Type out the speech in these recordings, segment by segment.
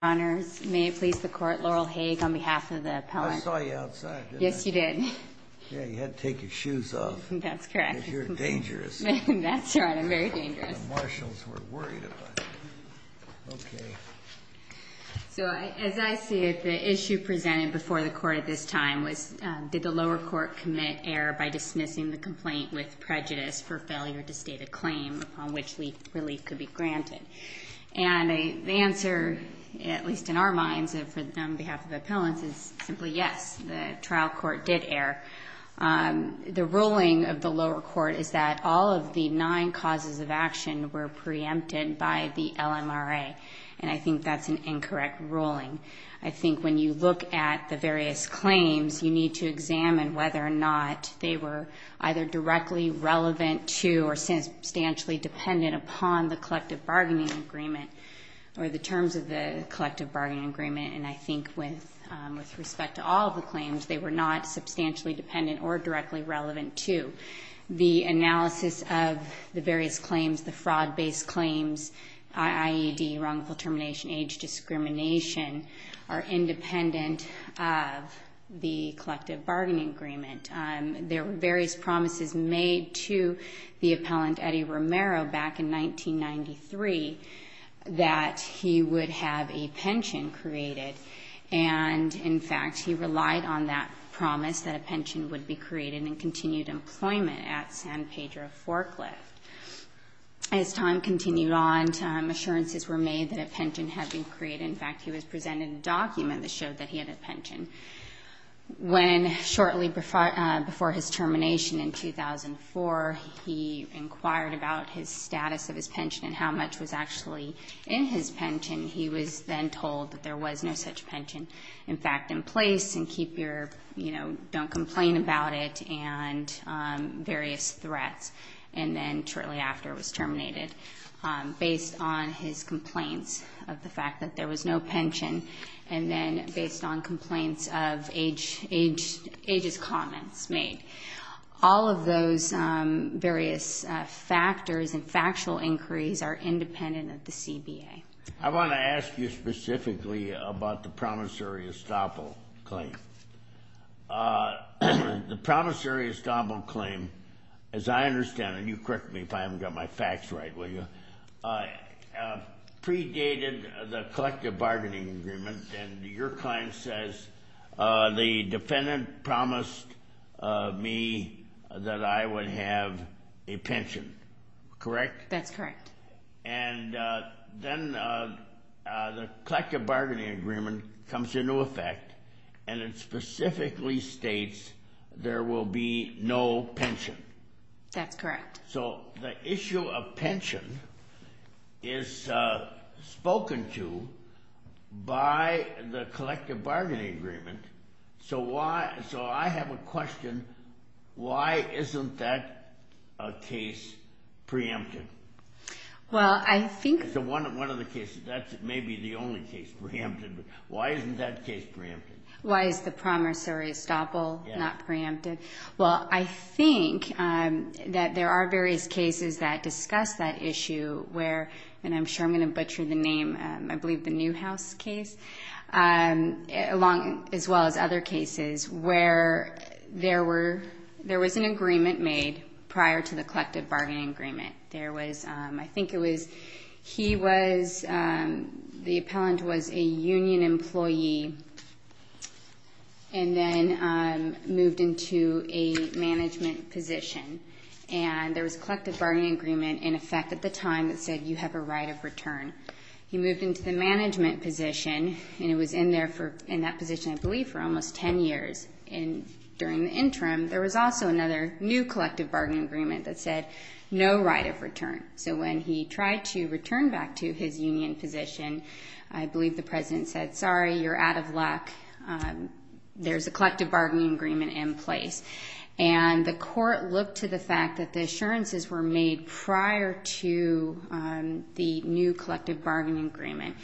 May it please the Court, Laurel Haig on behalf of the appellant. I saw you outside, didn't I? Yes, you did. Yeah, you had to take your shoes off. That's correct. Because you're dangerous. That's right, I'm very dangerous. The marshals were worried about you. Okay. So, as I see it, the issue presented before the Court at this time was, did the lower court commit error by dismissing the complaint with prejudice for failure to state a claim upon which relief could be granted? And the answer, at least in our minds, on behalf of appellants, is simply yes, the trial court did err. The ruling of the lower court is that all of the nine causes of action were preempted by the LMRA, and I think that's an incorrect ruling. I think when you look at the various claims, you need to examine whether or not they were either directly relevant to or substantially dependent upon the collective bargaining agreement or the terms of the collective bargaining agreement. And I think with respect to all of the claims, they were not substantially dependent or directly relevant to. The analysis of the various claims, the fraud-based claims, IAED, wrongful termination, age discrimination, are independent of the collective bargaining agreement. There were various promises made to the appellant Eddie Romero back in 1993 that he would have a pension created. And, in fact, he relied on that promise that a pension would be created and continued employment at San Pedro Forklift. As time continued on, assurances were made that a pension had been created. In fact, he was presented a document that showed that he had a pension. When shortly before his termination in 2004, he inquired about his status of his pension and how much was actually in his pension, he was then told that there was no such pension, in fact, in place, and keep your, you know, don't complain about it, and various threats. And then shortly after it was terminated, based on his complaints of the fact that there was no pension, and then based on complaints of age's comments made. All of those various factors and factual inquiries are independent of the CBA. I want to ask you specifically about the promissory estoppel claim. The promissory estoppel claim, as I understand it, and you correct me if I haven't got my facts right, will you, predated the collective bargaining agreement, and your client says, the defendant promised me that I would have a pension, correct? That's correct. And then the collective bargaining agreement comes into effect, and it specifically states there will be no pension. That's correct. So the issue of pension is spoken to by the collective bargaining agreement. So I have a question. Why isn't that case preempted? Well, I think... It's one of the cases. That may be the only case preempted. Why isn't that case preempted? Why is the promissory estoppel not preempted? Well, I think that there are various cases that discuss that issue where, and I'm sure I'm going to butcher the name, I believe the Newhouse case, as well as other cases where there was an agreement made prior to the collective bargaining agreement. There was, I think it was, he was, the appellant was a union employee and then moved into a management position, and there was a collective bargaining agreement in effect at the time that said you have a right of return. He moved into the management position, and he was in that position, I believe, for almost 10 years. During the interim, there was also another new collective bargaining agreement that said no right of return. So when he tried to return back to his union position, I believe the president said, Sorry, you're out of luck. There's a collective bargaining agreement in place. And the court looked to the fact that the assurances were made prior to the new collective bargaining agreement.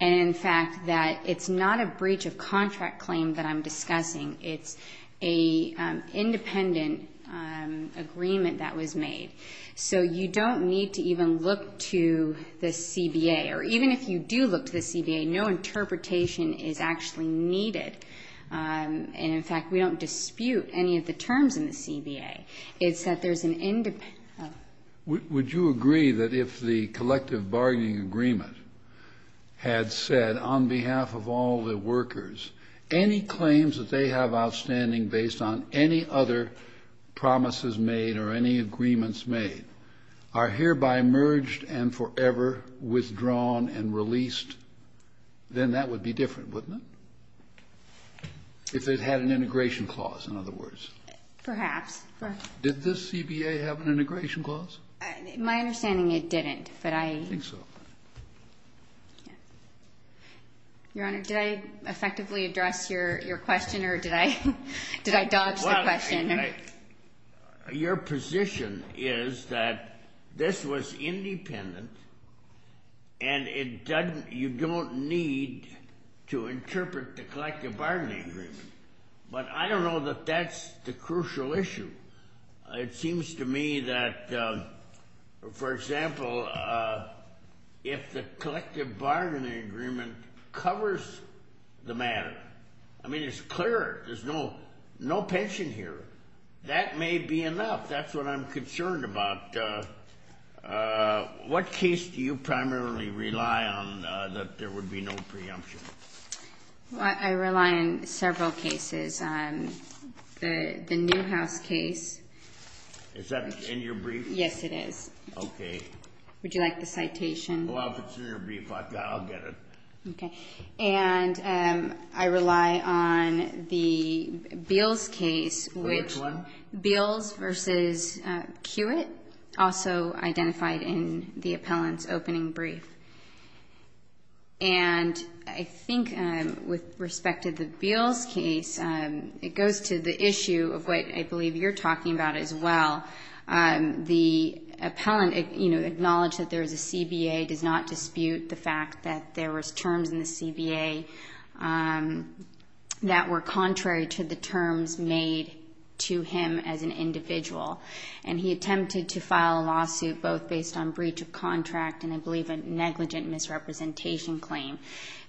And, in fact, that it's not a breach of contract claim that I'm discussing. It's an independent agreement that was made. So you don't need to even look to the CBA. Or even if you do look to the CBA, no interpretation is actually needed. And, in fact, we don't dispute any of the terms in the CBA. It's that there's an independent. Would you agree that if the collective bargaining agreement had said, on behalf of all the workers, any claims that they have outstanding based on any other promises made or any agreements made are hereby merged and forever withdrawn and released, then that would be different, wouldn't it, if it had an integration clause, in other words? Perhaps. Did the CBA have an integration clause? My understanding, it didn't. I think so. Your Honor, did I effectively address your question, or did I dodge the question? Your position is that this was independent, and you don't need to interpret the collective bargaining agreement. But I don't know that that's the crucial issue. It seems to me that, for example, if the collective bargaining agreement covers the matter, I mean, it's clear there's no pension here, that may be enough. That's what I'm concerned about. What case do you primarily rely on that there would be no preemption? I rely on several cases. The Newhouse case. Is that in your brief? Yes, it is. Okay. Would you like the citation? Well, if it's in your brief, I'll get it. Okay. And I rely on the Beals case. Which one? Beals v. Kiewit, also identified in the appellant's opening brief. And I think with respect to the Beals case, it goes to the issue of what I believe you're talking about as well. The appellant acknowledged that there is a CBA, does not dispute the fact that there was terms in the CBA that were contrary to the terms made to him as an individual. And he attempted to file a lawsuit both based on breach of contract and I believe a negligent misrepresentation claim.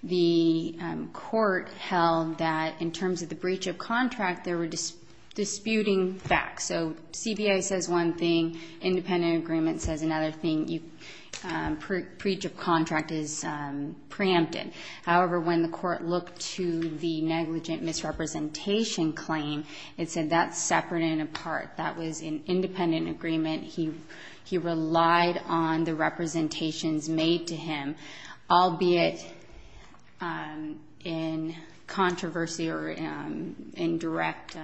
The court held that in terms of the breach of contract, there were disputing facts. So CBA says one thing, independent agreement says another thing, breach of contract is preempted. However, when the court looked to the negligent misrepresentation claim, it said that's separate and apart. That was an independent agreement. He relied on the representations made to him, albeit in controversy or in direct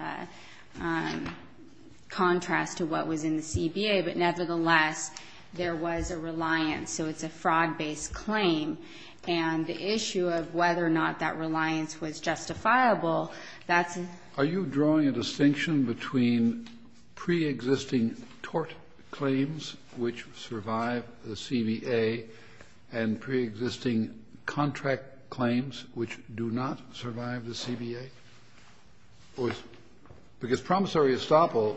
contrast to what was in the CBA. But nevertheless, there was a reliance. So it's a fraud-based claim. And the issue of whether or not that reliance was justifiable, that's an issue. Kennedy, are you drawing a distinction between preexisting tort claims which survive the CBA and preexisting contract claims which do not survive the CBA? Because promissory estoppel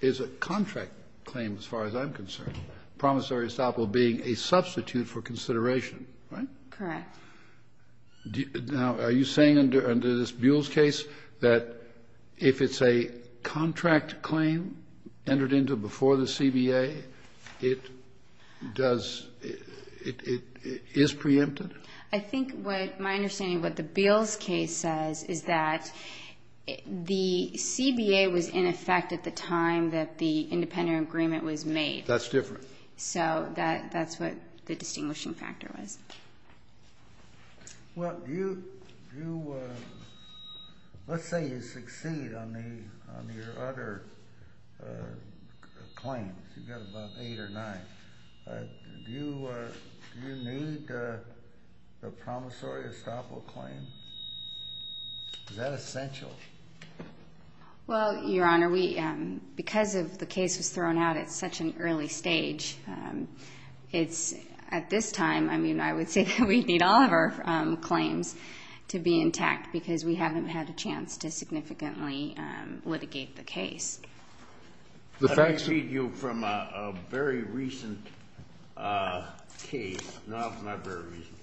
is a contract claim as far as I'm concerned, promissory estoppel being a substitute for consideration, right? Correct. Now, are you saying under this Buells case that if it's a contract claim entered into before the CBA, it does, it is preempted? I think what my understanding of what the Buells case says is that the CBA was in effect at the time that the independent agreement was made. That's different. So that's what the distinguishing factor was. Well, let's say you succeed on your other claims. You've got about eight or nine. Do you need the promissory estoppel claim? Is that essential? Well, Your Honor, because the case was thrown out at such an early stage, at this time, I mean, I would say that we need all of our claims to be intact because we haven't had a chance to significantly litigate the case. Let me read you from a very recent case. No, it's not very recent.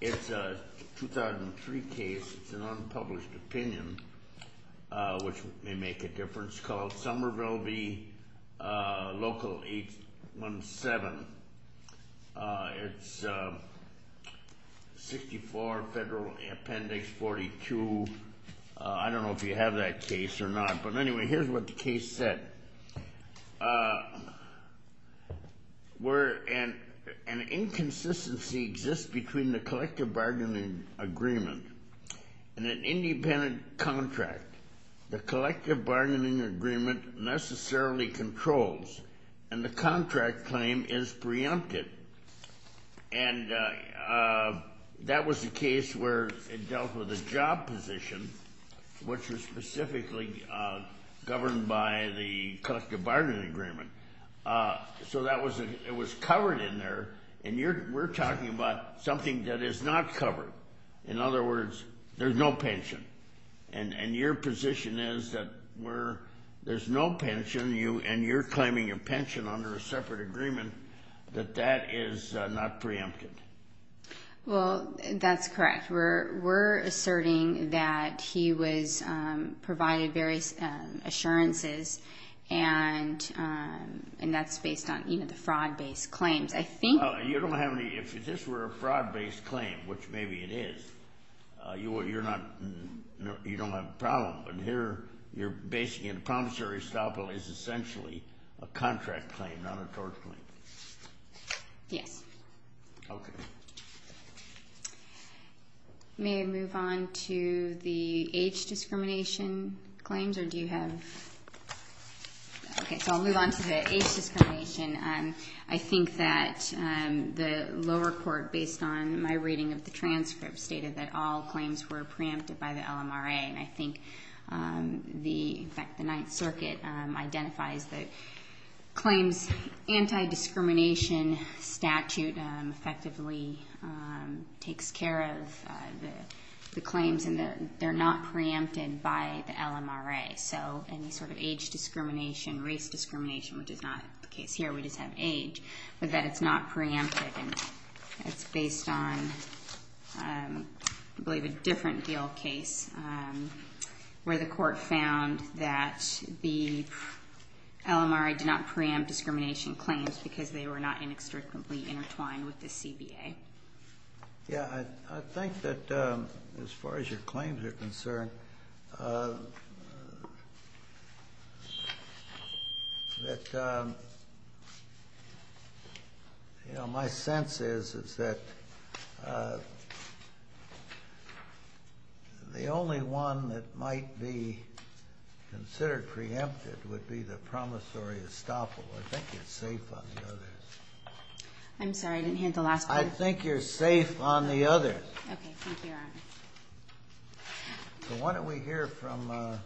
It's a 2003 case. It's an unpublished opinion, which may make a difference, called Somerville v. Local 817. It's 64 Federal Appendix 42. I don't know if you have that case or not, but anyway, here's what the case said. Where an inconsistency exists between the collective bargaining agreement and an independent contract, the collective bargaining agreement necessarily controls, and the contract claim is preempted. And that was the case where it dealt with a job position, which was specifically governed by the collective bargaining agreement. So it was covered in there, and we're talking about something that is not covered. In other words, there's no pension. And your position is that there's no pension, and you're claiming your pension under a separate agreement, that that is not preempted. Well, that's correct. We're asserting that he provided various assurances, and that's based on the fraud-based claims. If this were a fraud-based claim, which maybe it is, you don't have a problem. But here, you're basing it, a promissory estoppel is essentially a contract claim, not a tort claim. Yes. Okay. May I move on to the age discrimination claims, or do you have... Okay, so I'll move on to the age discrimination. I think that the lower court, based on my reading of the transcript, stated that all claims were preempted by the LMRA, and I think the Ninth Circuit identifies that claims anti-discrimination statute effectively takes care of the claims, and they're not preempted by the LMRA. So any sort of age discrimination, race discrimination, which is not the case here, we just have age, but that it's not preempted. And it's based on, I believe, a different deal case, where the court found that the LMRA did not preempt discrimination claims because they were not inextricably intertwined with the CBA. Yeah. I think that as far as your claims are concerned, that, you know, my sense is, is that the only one that might be considered preempted would be the promissory estoppel. I think it's safe on the others. I'm sorry. I didn't hear the last part. I think you're safe on the others. Okay. Thank you, Your Honor. So why don't we hear from the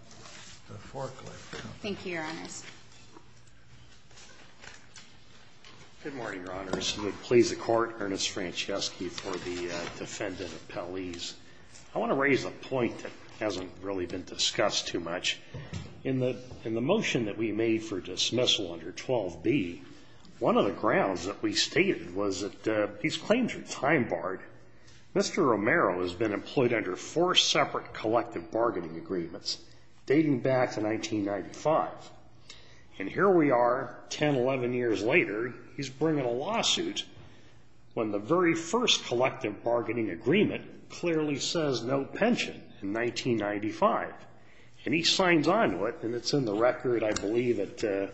forklift? Thank you, Your Honors. Good morning, Your Honors. I would please the Court, Ernest Franceschi, for the defendant appellees. I want to raise a point that hasn't really been discussed too much. In the motion that we made for dismissal under 12b, one of the grounds that we stated was that these claims are time-barred. Mr. Romero has been employed under four separate collective bargaining agreements, dating back to 1995. And here we are, 10, 11 years later, he's bringing a lawsuit when the very first collective bargaining agreement clearly says no pension in 1995. And he signs on to it, and it's in the record, I believe, at the ----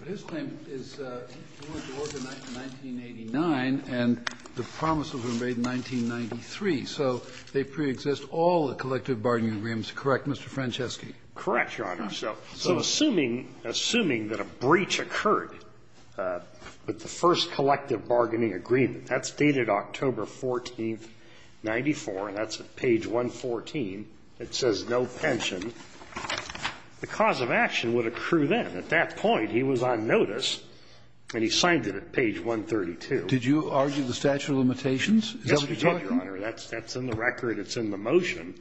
But his claim is he went to Oregon in 1989, and the promise was made in 1993. So they preexist all the collective bargaining agreements, correct, Mr. Franceschi? Correct, Your Honor. So assuming that a breach occurred with the first collective bargaining agreement that's dated October 14th, 94, and that's at page 114, it says no pension, the cause of action would accrue then. At that point, he was on notice, and he signed it at page 132. Did you argue the statute of limitations? Yes, we did, Your Honor. That's in the record. It's in the motion.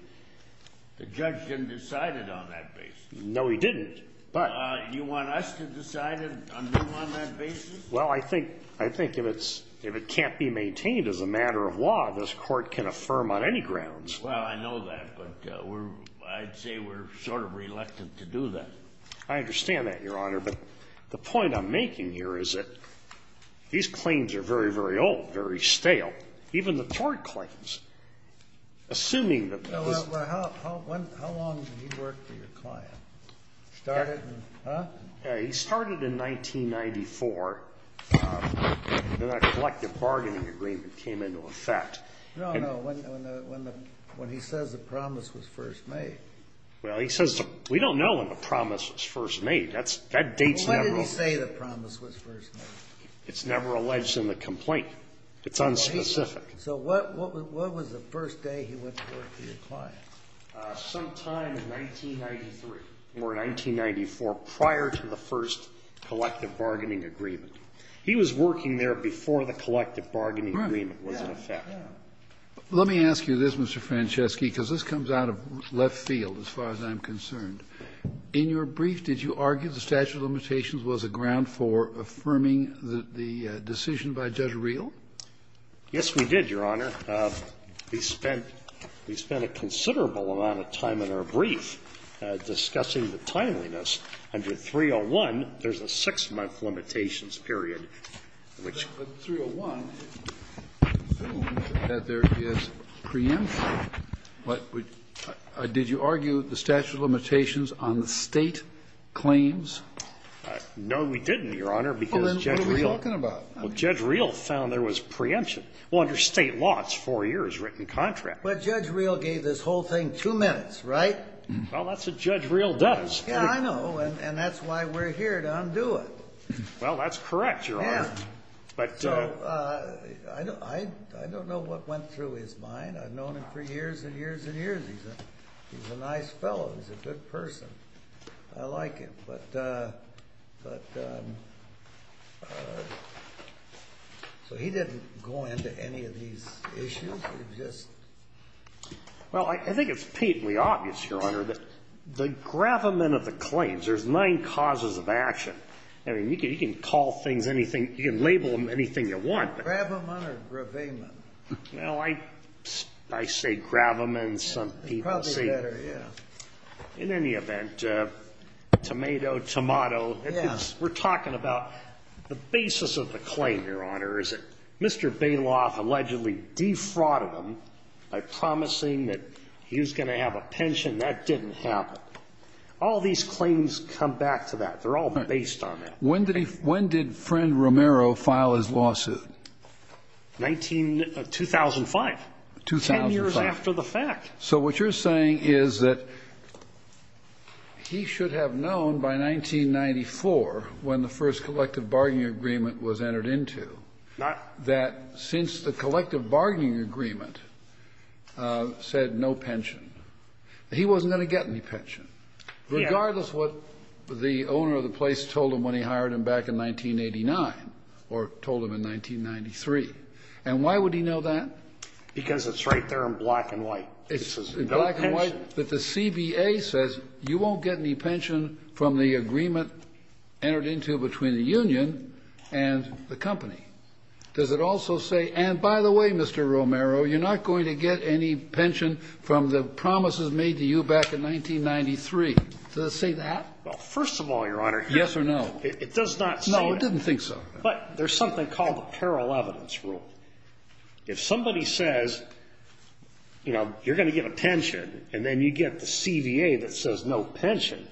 The judge didn't decide it on that basis. No, he didn't, but ---- You want us to decide it on that basis? Well, I think if it can't be maintained as a matter of law, this Court can affirm on any grounds. Well, I know that, but I'd say we're sort of reluctant to do that. I understand that, Your Honor. But the point I'm making here is that these claims are very, very old, very stale, even the tort claims. Assuming that this ---- Well, how long did he work for your client? Started in ---- Then that collective bargaining agreement came into effect. No, no. When he says the promise was first made. Well, he says we don't know when the promise was first made. That date's never ---- When did he say the promise was first made? It's never alleged in the complaint. It's unspecific. So what was the first day he went to work for your client? Sometime in 1993 or 1994, prior to the first collective bargaining agreement. He was working there before the collective bargaining agreement was in effect. Let me ask you this, Mr. Franceschi, because this comes out of left field, as far as I'm concerned. In your brief, did you argue the statute of limitations was a ground for affirming the decision by Judge Reel? Yes, we did, Your Honor. Under 301, there's a six-month limitations period, which ---- But 301 assumes that there is preemption. But did you argue the statute of limitations on the State claims? No, we didn't, Your Honor, because Judge Reel ---- Well, then what are we talking about? Well, Judge Reel found there was preemption. Well, under State law, it's four years' written contract. But Judge Reel gave this whole thing two minutes, right? Well, that's what Judge Reel does. Yeah, I know. And that's why we're here to undo it. Well, that's correct, Your Honor. Yeah. So I don't know what went through his mind. I've known him for years and years and years. He's a nice fellow. He's a good person. I like him. But so he didn't go into any of these issues. He just ---- Well, I think it's painfully obvious, Your Honor, that the gravamen of the claims ---- There's nine causes of action. I mean, you can call things anything. You can label them anything you want. Gravamen or gravamen? Well, I say gravamen. Some people say ---- Probably better, yeah. In any event, tomato, tomato. Yeah. We're talking about the basis of the claim, Your Honor, is that Mr. Bailoff allegedly defrauded him by promising that he was going to have a pension. That didn't happen. All these claims come back to that. They're all based on that. When did Friend Romero file his lawsuit? 2005. 2005. Ten years after the fact. So what you're saying is that he should have known by 1994, when the first collective bargaining agreement was entered into, that since the collective bargaining agreement said no pension, he wasn't going to get any pension. Yeah. Regardless of what the owner of the place told him when he hired him back in 1989 or told him in 1993. And why would he know that? Because it's right there in black and white. It's in black and white that the CBA says you won't get any pension from the agreement entered into between the union and the company. Does it also say, and by the way, Mr. Romero, you're not going to get any pension from the promises made to you back in 1993? Does it say that? Well, first of all, Your Honor. Yes or no? It does not say that. No, it didn't think so. But there's something called the peril evidence rule. If somebody says, you know, you're going to get a pension, and then you get the CBA that says no pension,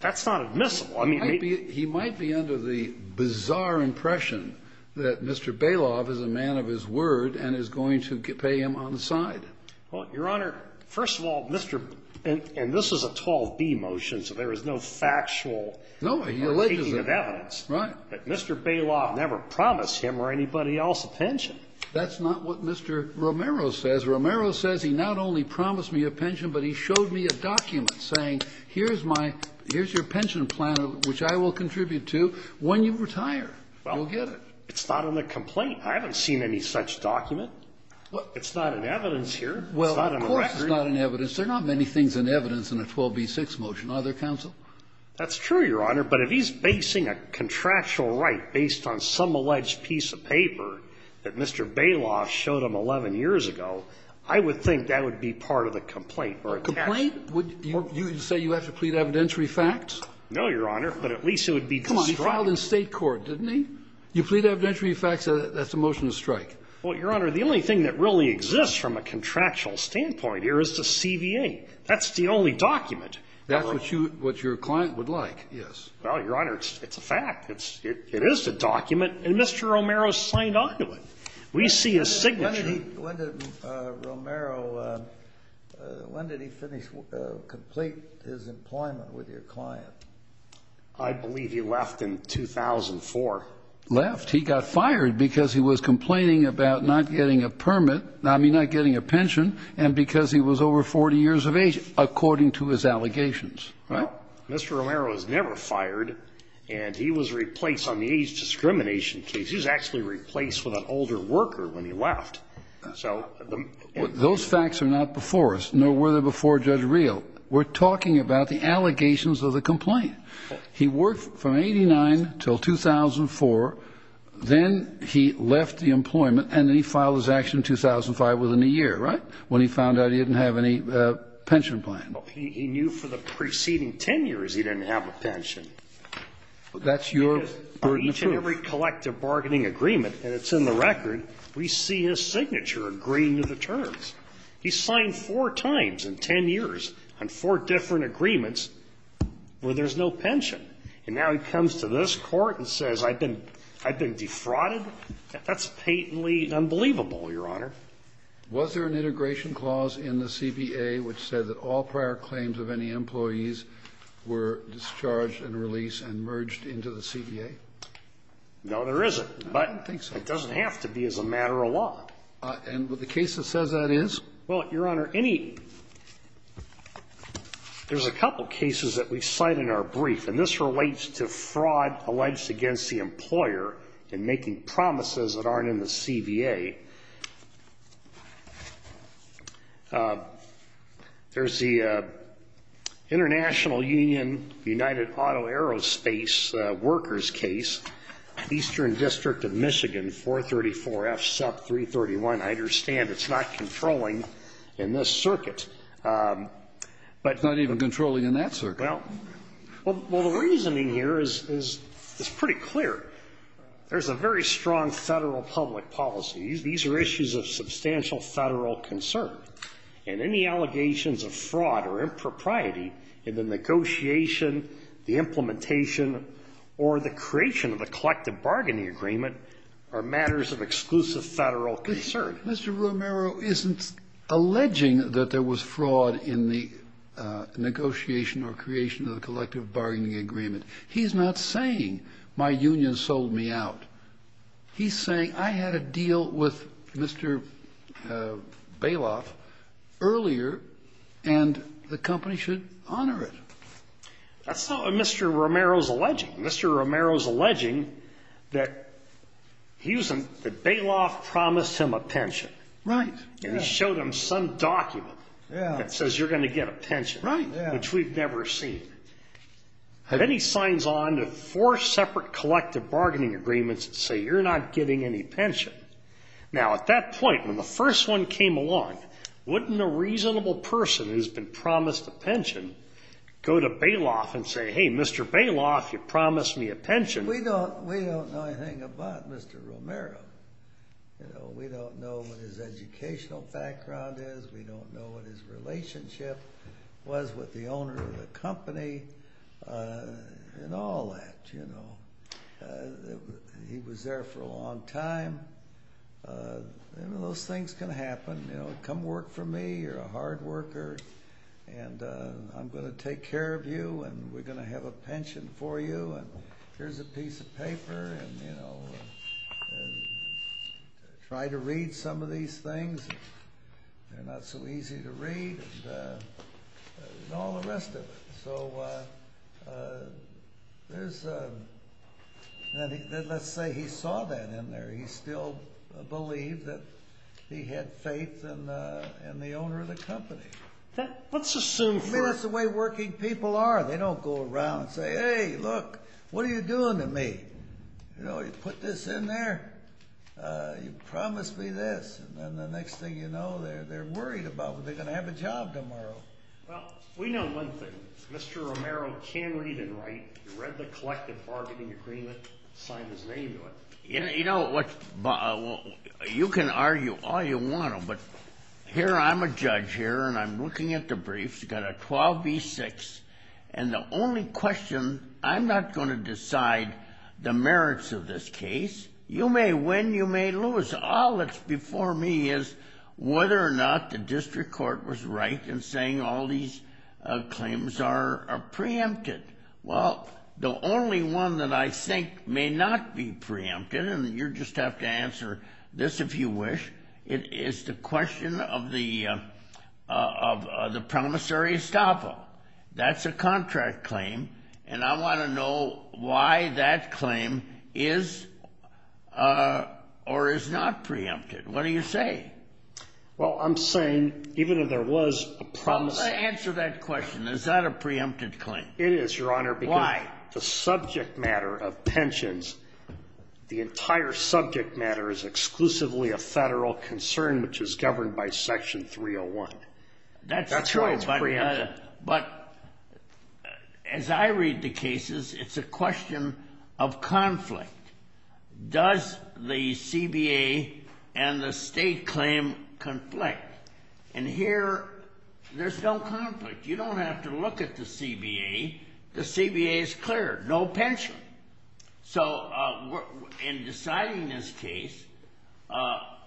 that's not admissible. I mean, maybe he might be under the bizarre impression that Mr. Baloff is a man of his word and is going to pay him on the side. Well, Your Honor, first of all, Mr. And this is a 12B motion, so there is no factual or taking of evidence. Right. But Mr. Baloff never promised him or anybody else a pension. That's not what Mr. Romero says. Mr. Romero says he not only promised me a pension, but he showed me a document saying, here's your pension plan, which I will contribute to when you retire. You'll get it. Well, it's not in the complaint. I haven't seen any such document. It's not in evidence here. It's not in the record. Well, of course it's not in evidence. There are not many things in evidence in a 12B6 motion, are there, Counsel? That's true, Your Honor. But if he's basing a contractual right based on some alleged piece of paper that Mr. Romero has, I would think that would be part of the complaint or attachment. A complaint? You say you have to plead evidentiary facts? No, Your Honor. But at least it would be to strike. Come on. He filed in State court, didn't he? You plead evidentiary facts, that's a motion to strike. Well, Your Honor, the only thing that really exists from a contractual standpoint here is the CVA. That's the only document. Right. That's what your client would like, yes. Well, Your Honor, it's a fact. It is a document. And Mr. Romero signed on to it. We see a signature. When did Romero, when did he finish, complete his employment with your client? I believe he left in 2004. Left. He got fired because he was complaining about not getting a permit, I mean not getting a pension, and because he was over 40 years of age, according to his allegations. Right? No. Mr. Romero was never fired, and he was replaced on the age discrimination case. He was actually replaced with an older worker when he left. Those facts are not before us, nor were they before Judge Reel. We're talking about the allegations of the complaint. He worked from 89 until 2004. Then he left the employment, and then he filed his action in 2005 within a year, right? When he found out he didn't have any pension plan. He knew for the preceding 10 years he didn't have a pension. That's your burden of proof. So each and every collective bargaining agreement, and it's in the record, we see his signature agreeing to the terms. He signed four times in 10 years on four different agreements where there's no pension. And now he comes to this Court and says I've been defrauded? That's patently unbelievable, Your Honor. Was there an integration clause in the CBA which said that all prior claims of any No, there isn't, but it doesn't have to be as a matter of law. And the case that says that is? Well, Your Honor, there's a couple cases that we cite in our brief, and this relates to fraud alleged against the employer in making promises that aren't in the CBA. There's the International Union United Auto Aerospace workers case, Eastern District of Michigan, 434F sub 331. I understand it's not controlling in this circuit. It's not even controlling in that circuit. Well, the reasoning here is pretty clear. There's a very strong federal public policy. These are issues of substantial federal concern. And any allegations of fraud or impropriety in the negotiation, the implementation or the creation of a collective bargaining agreement are matters of exclusive federal concern. Mr. Romero isn't alleging that there was fraud in the negotiation or creation of the collective bargaining agreement. He's not saying my union sold me out. He's saying I had a deal with Mr. Bailoff earlier, and the company should honor it. That's not what Mr. Romero's alleging. Mr. Romero's alleging that Bailoff promised him a pension. Right. And he showed him some document that says you're going to get a pension, which we've never seen. And then he signs on to four separate collective bargaining agreements that say you're not getting any pension. Now, at that point, when the first one came along, wouldn't a reasonable person who's been promised a pension go to Bailoff and say, hey, Mr. Bailoff, you promised me a pension? We don't know anything about Mr. Romero. We don't know what his educational background is. We don't know what his relationship was with the owner of the company and all that. He was there for a long time. Those things can happen. Come work for me. You're a hard worker, and I'm going to take care of you, and we're going to have a pension for you. Here's a piece of paper. And, you know, try to read some of these things. They're not so easy to read and all the rest of it. So let's say he saw that in there. He still believed that he had faith in the owner of the company. I mean, that's the way working people are. They don't go around and say, hey, look, what are you doing to me? You know, you put this in there, you promised me this, and then the next thing you know they're worried about whether they're going to have a job tomorrow. Well, we know one thing. Mr. Romero can read and write. He read the collective bargaining agreement and signed his name to it. You know, you can argue all you want, but here I'm a judge here, and I'm looking at the briefs. You've got a 12 v. 6, and the only question, I'm not going to decide the merits of this case. You may win, you may lose. All that's before me is whether or not the district court was right in saying all these claims are preempted. Well, the only one that I think may not be preempted, and you just have to answer this if you wish, is the question of the promissory estoppel. That's a contract claim, and I want to know why that claim is or is not preempted. What do you say? Well, I'm saying even if there was a promise. Answer that question. Is that a preempted claim? It is, Your Honor. Why? The subject matter of pensions, the entire subject matter is exclusively a federal concern, which is governed by Section 301. That's true, but as I read the cases, it's a question of conflict. Does the CBA and the state claim conflict? And here there's no conflict. You don't have to look at the CBA. The CBA is clear, no pension. So in deciding this case,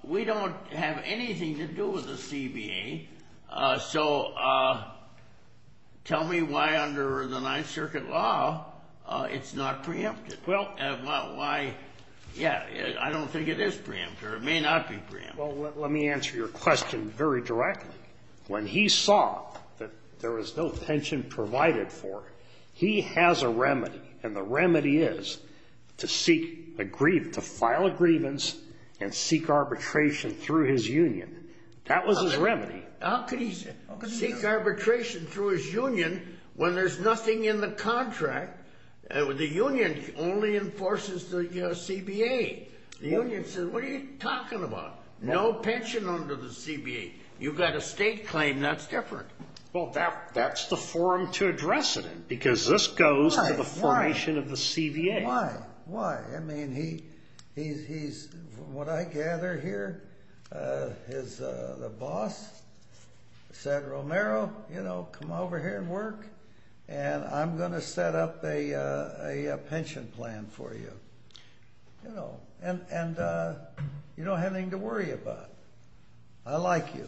we don't have anything to do with the CBA. So tell me why under the Ninth Circuit law it's not preempted. Well, why? Yeah. I don't think it is preempted, or it may not be preempted. Well, let me answer your question very directly. When he saw that there was no pension provided for, he has a remedy, and the remedy is to seek a grievance, to file a grievance and seek arbitration through his union. That was his remedy. How could he seek arbitration through his union when there's nothing in the contract? The union only enforces the CBA. The union says, what are you talking about? No pension under the CBA. You've got a state claim. That's different. Well, that's the forum to address it in because this goes to the formation of the CBA. Why? Why? I mean, he's, what I gather here, his boss said, Romero, you know, come over here and work, and I'm going to set up a pension plan for you. You know, and you don't have anything to worry about. I like you.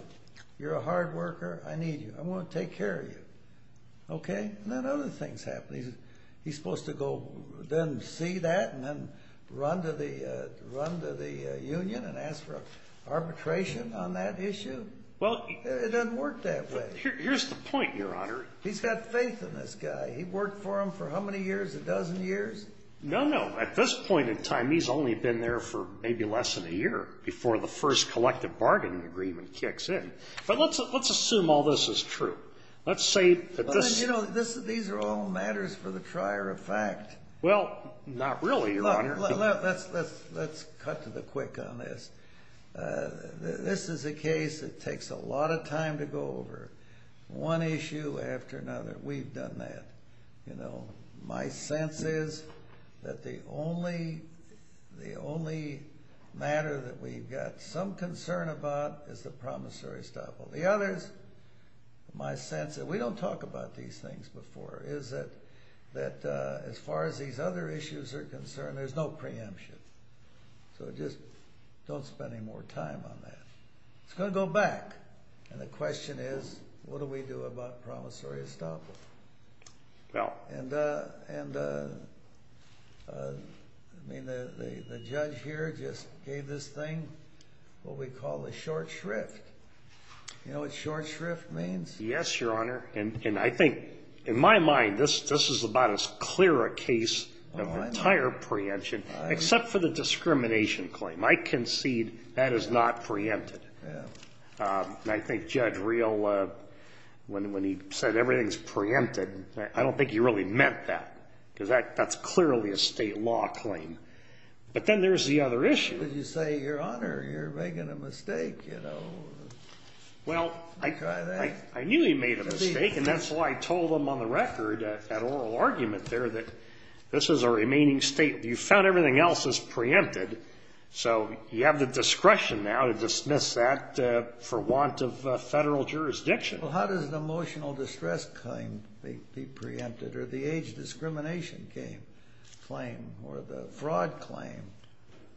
You're a hard worker. I need you. I want to take care of you. Okay? And then other things happen. He's supposed to go then see that and then run to the union and ask for arbitration on that issue? Well, he. It doesn't work that way. Here's the point, Your Honor. He's got faith in this guy. He worked for him for how many years? A dozen years? No, no. At this point in time, he's only been there for maybe less than a year before the first collective bargaining agreement kicks in. But let's assume all this is true. Let's say that this. You know, these are all matters for the trier of fact. Well, not really, Your Honor. Look, let's cut to the quick on this. This is a case that takes a lot of time to go over, one issue after another. We've done that. You know, my sense is that the only matter that we've got some concern about is the promissory estoppel. The others, my sense, and we don't talk about these things before, is that as far as these other issues are concerned, there's no preemption. So just don't spend any more time on that. It's going to go back. And the question is, what do we do about promissory estoppel? And, I mean, the judge here just gave this thing what we call the short shrift. You know what short shrift means? Yes, Your Honor. And I think, in my mind, this is about as clear a case of entire preemption, except for the discrimination claim. I concede that is not preempted. And I think Judge Real, when he said everything's preempted, I don't think he really meant that, because that's clearly a state law claim. But then there's the other issue. But you say, Your Honor, you're making a mistake, you know. Well, I knew he made a mistake, and that's why I told him on the record, that oral argument there, that this is a remaining state. You found everything else is preempted. So you have the discretion now to dismiss that for want of federal jurisdiction. Well, how does the emotional distress claim be preempted, or the age discrimination claim, or the fraud claim?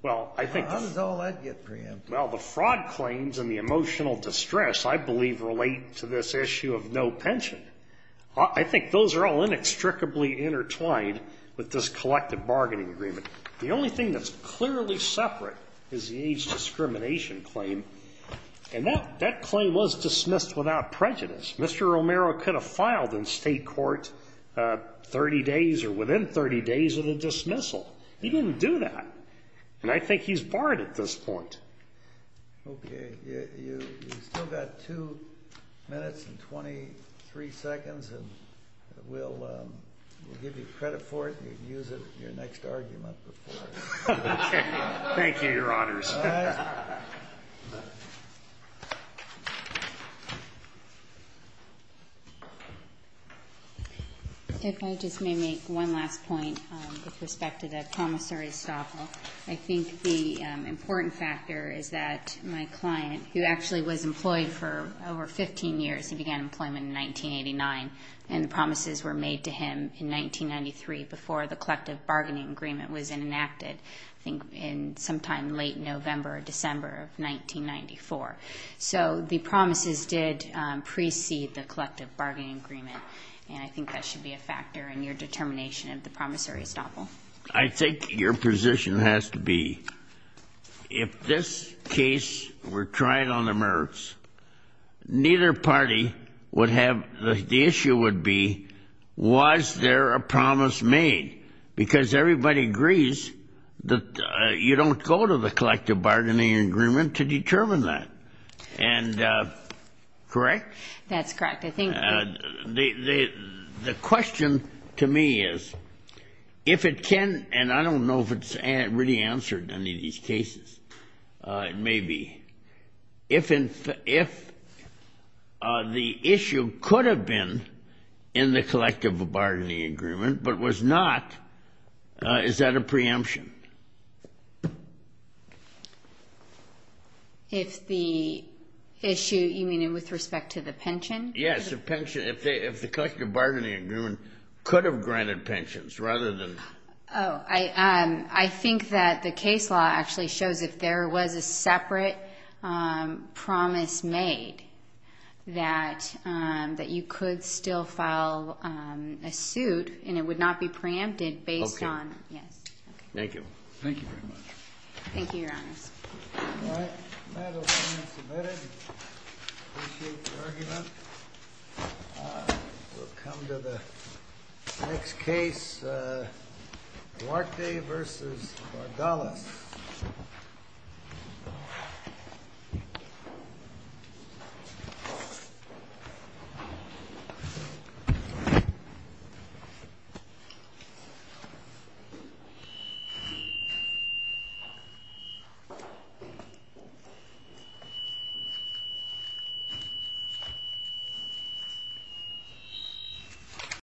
How does all that get preempted? Well, the fraud claims and the emotional distress, I believe, relate to this issue of no pension. I think those are all inextricably intertwined with this collective bargaining agreement. The only thing that's clearly separate is the age discrimination claim. And that claim was dismissed without prejudice. Mr. Romero could have filed in state court 30 days or within 30 days of the dismissal. He didn't do that. And I think he's barred at this point. Okay. You've still got two minutes and 23 seconds, and we'll give you credit for it. You can use it in your next argument before. Okay. Thank you, Your Honors. All right. If I just may make one last point with respect to the promissory staff. I think the important factor is that my client, who actually was employed for over 15 years, he began employment in 1989, and the promises were made to him in 1993 before the collective bargaining agreement was enacted, I think in sometime late November or December of 1994. So the promises did precede the collective bargaining agreement, and I think that should be a factor in your determination of the promissory estoppel. I think your position has to be if this case were tried on the merits, neither party would have the issue would be was there a promise made, because everybody agrees that you don't go to the collective bargaining agreement to determine that. And correct? That's correct. The question to me is if it can, and I don't know if it's really answered any of these cases. It may be. If the issue could have been in the collective bargaining agreement but was not, is that a preemption? If the issue, you mean with respect to the pension? Yes, if the collective bargaining agreement could have granted pensions rather than. Oh, I think that the case law actually shows if there was a separate promise made that you could still file a suit, and it would not be preempted based on. Okay. Yes. Thank you. Thank you very much. Thank you, Your Honor. All right. That'll be submitted. Appreciate the argument. We'll come to the next case, Duarte v. Bardalas. Thank you.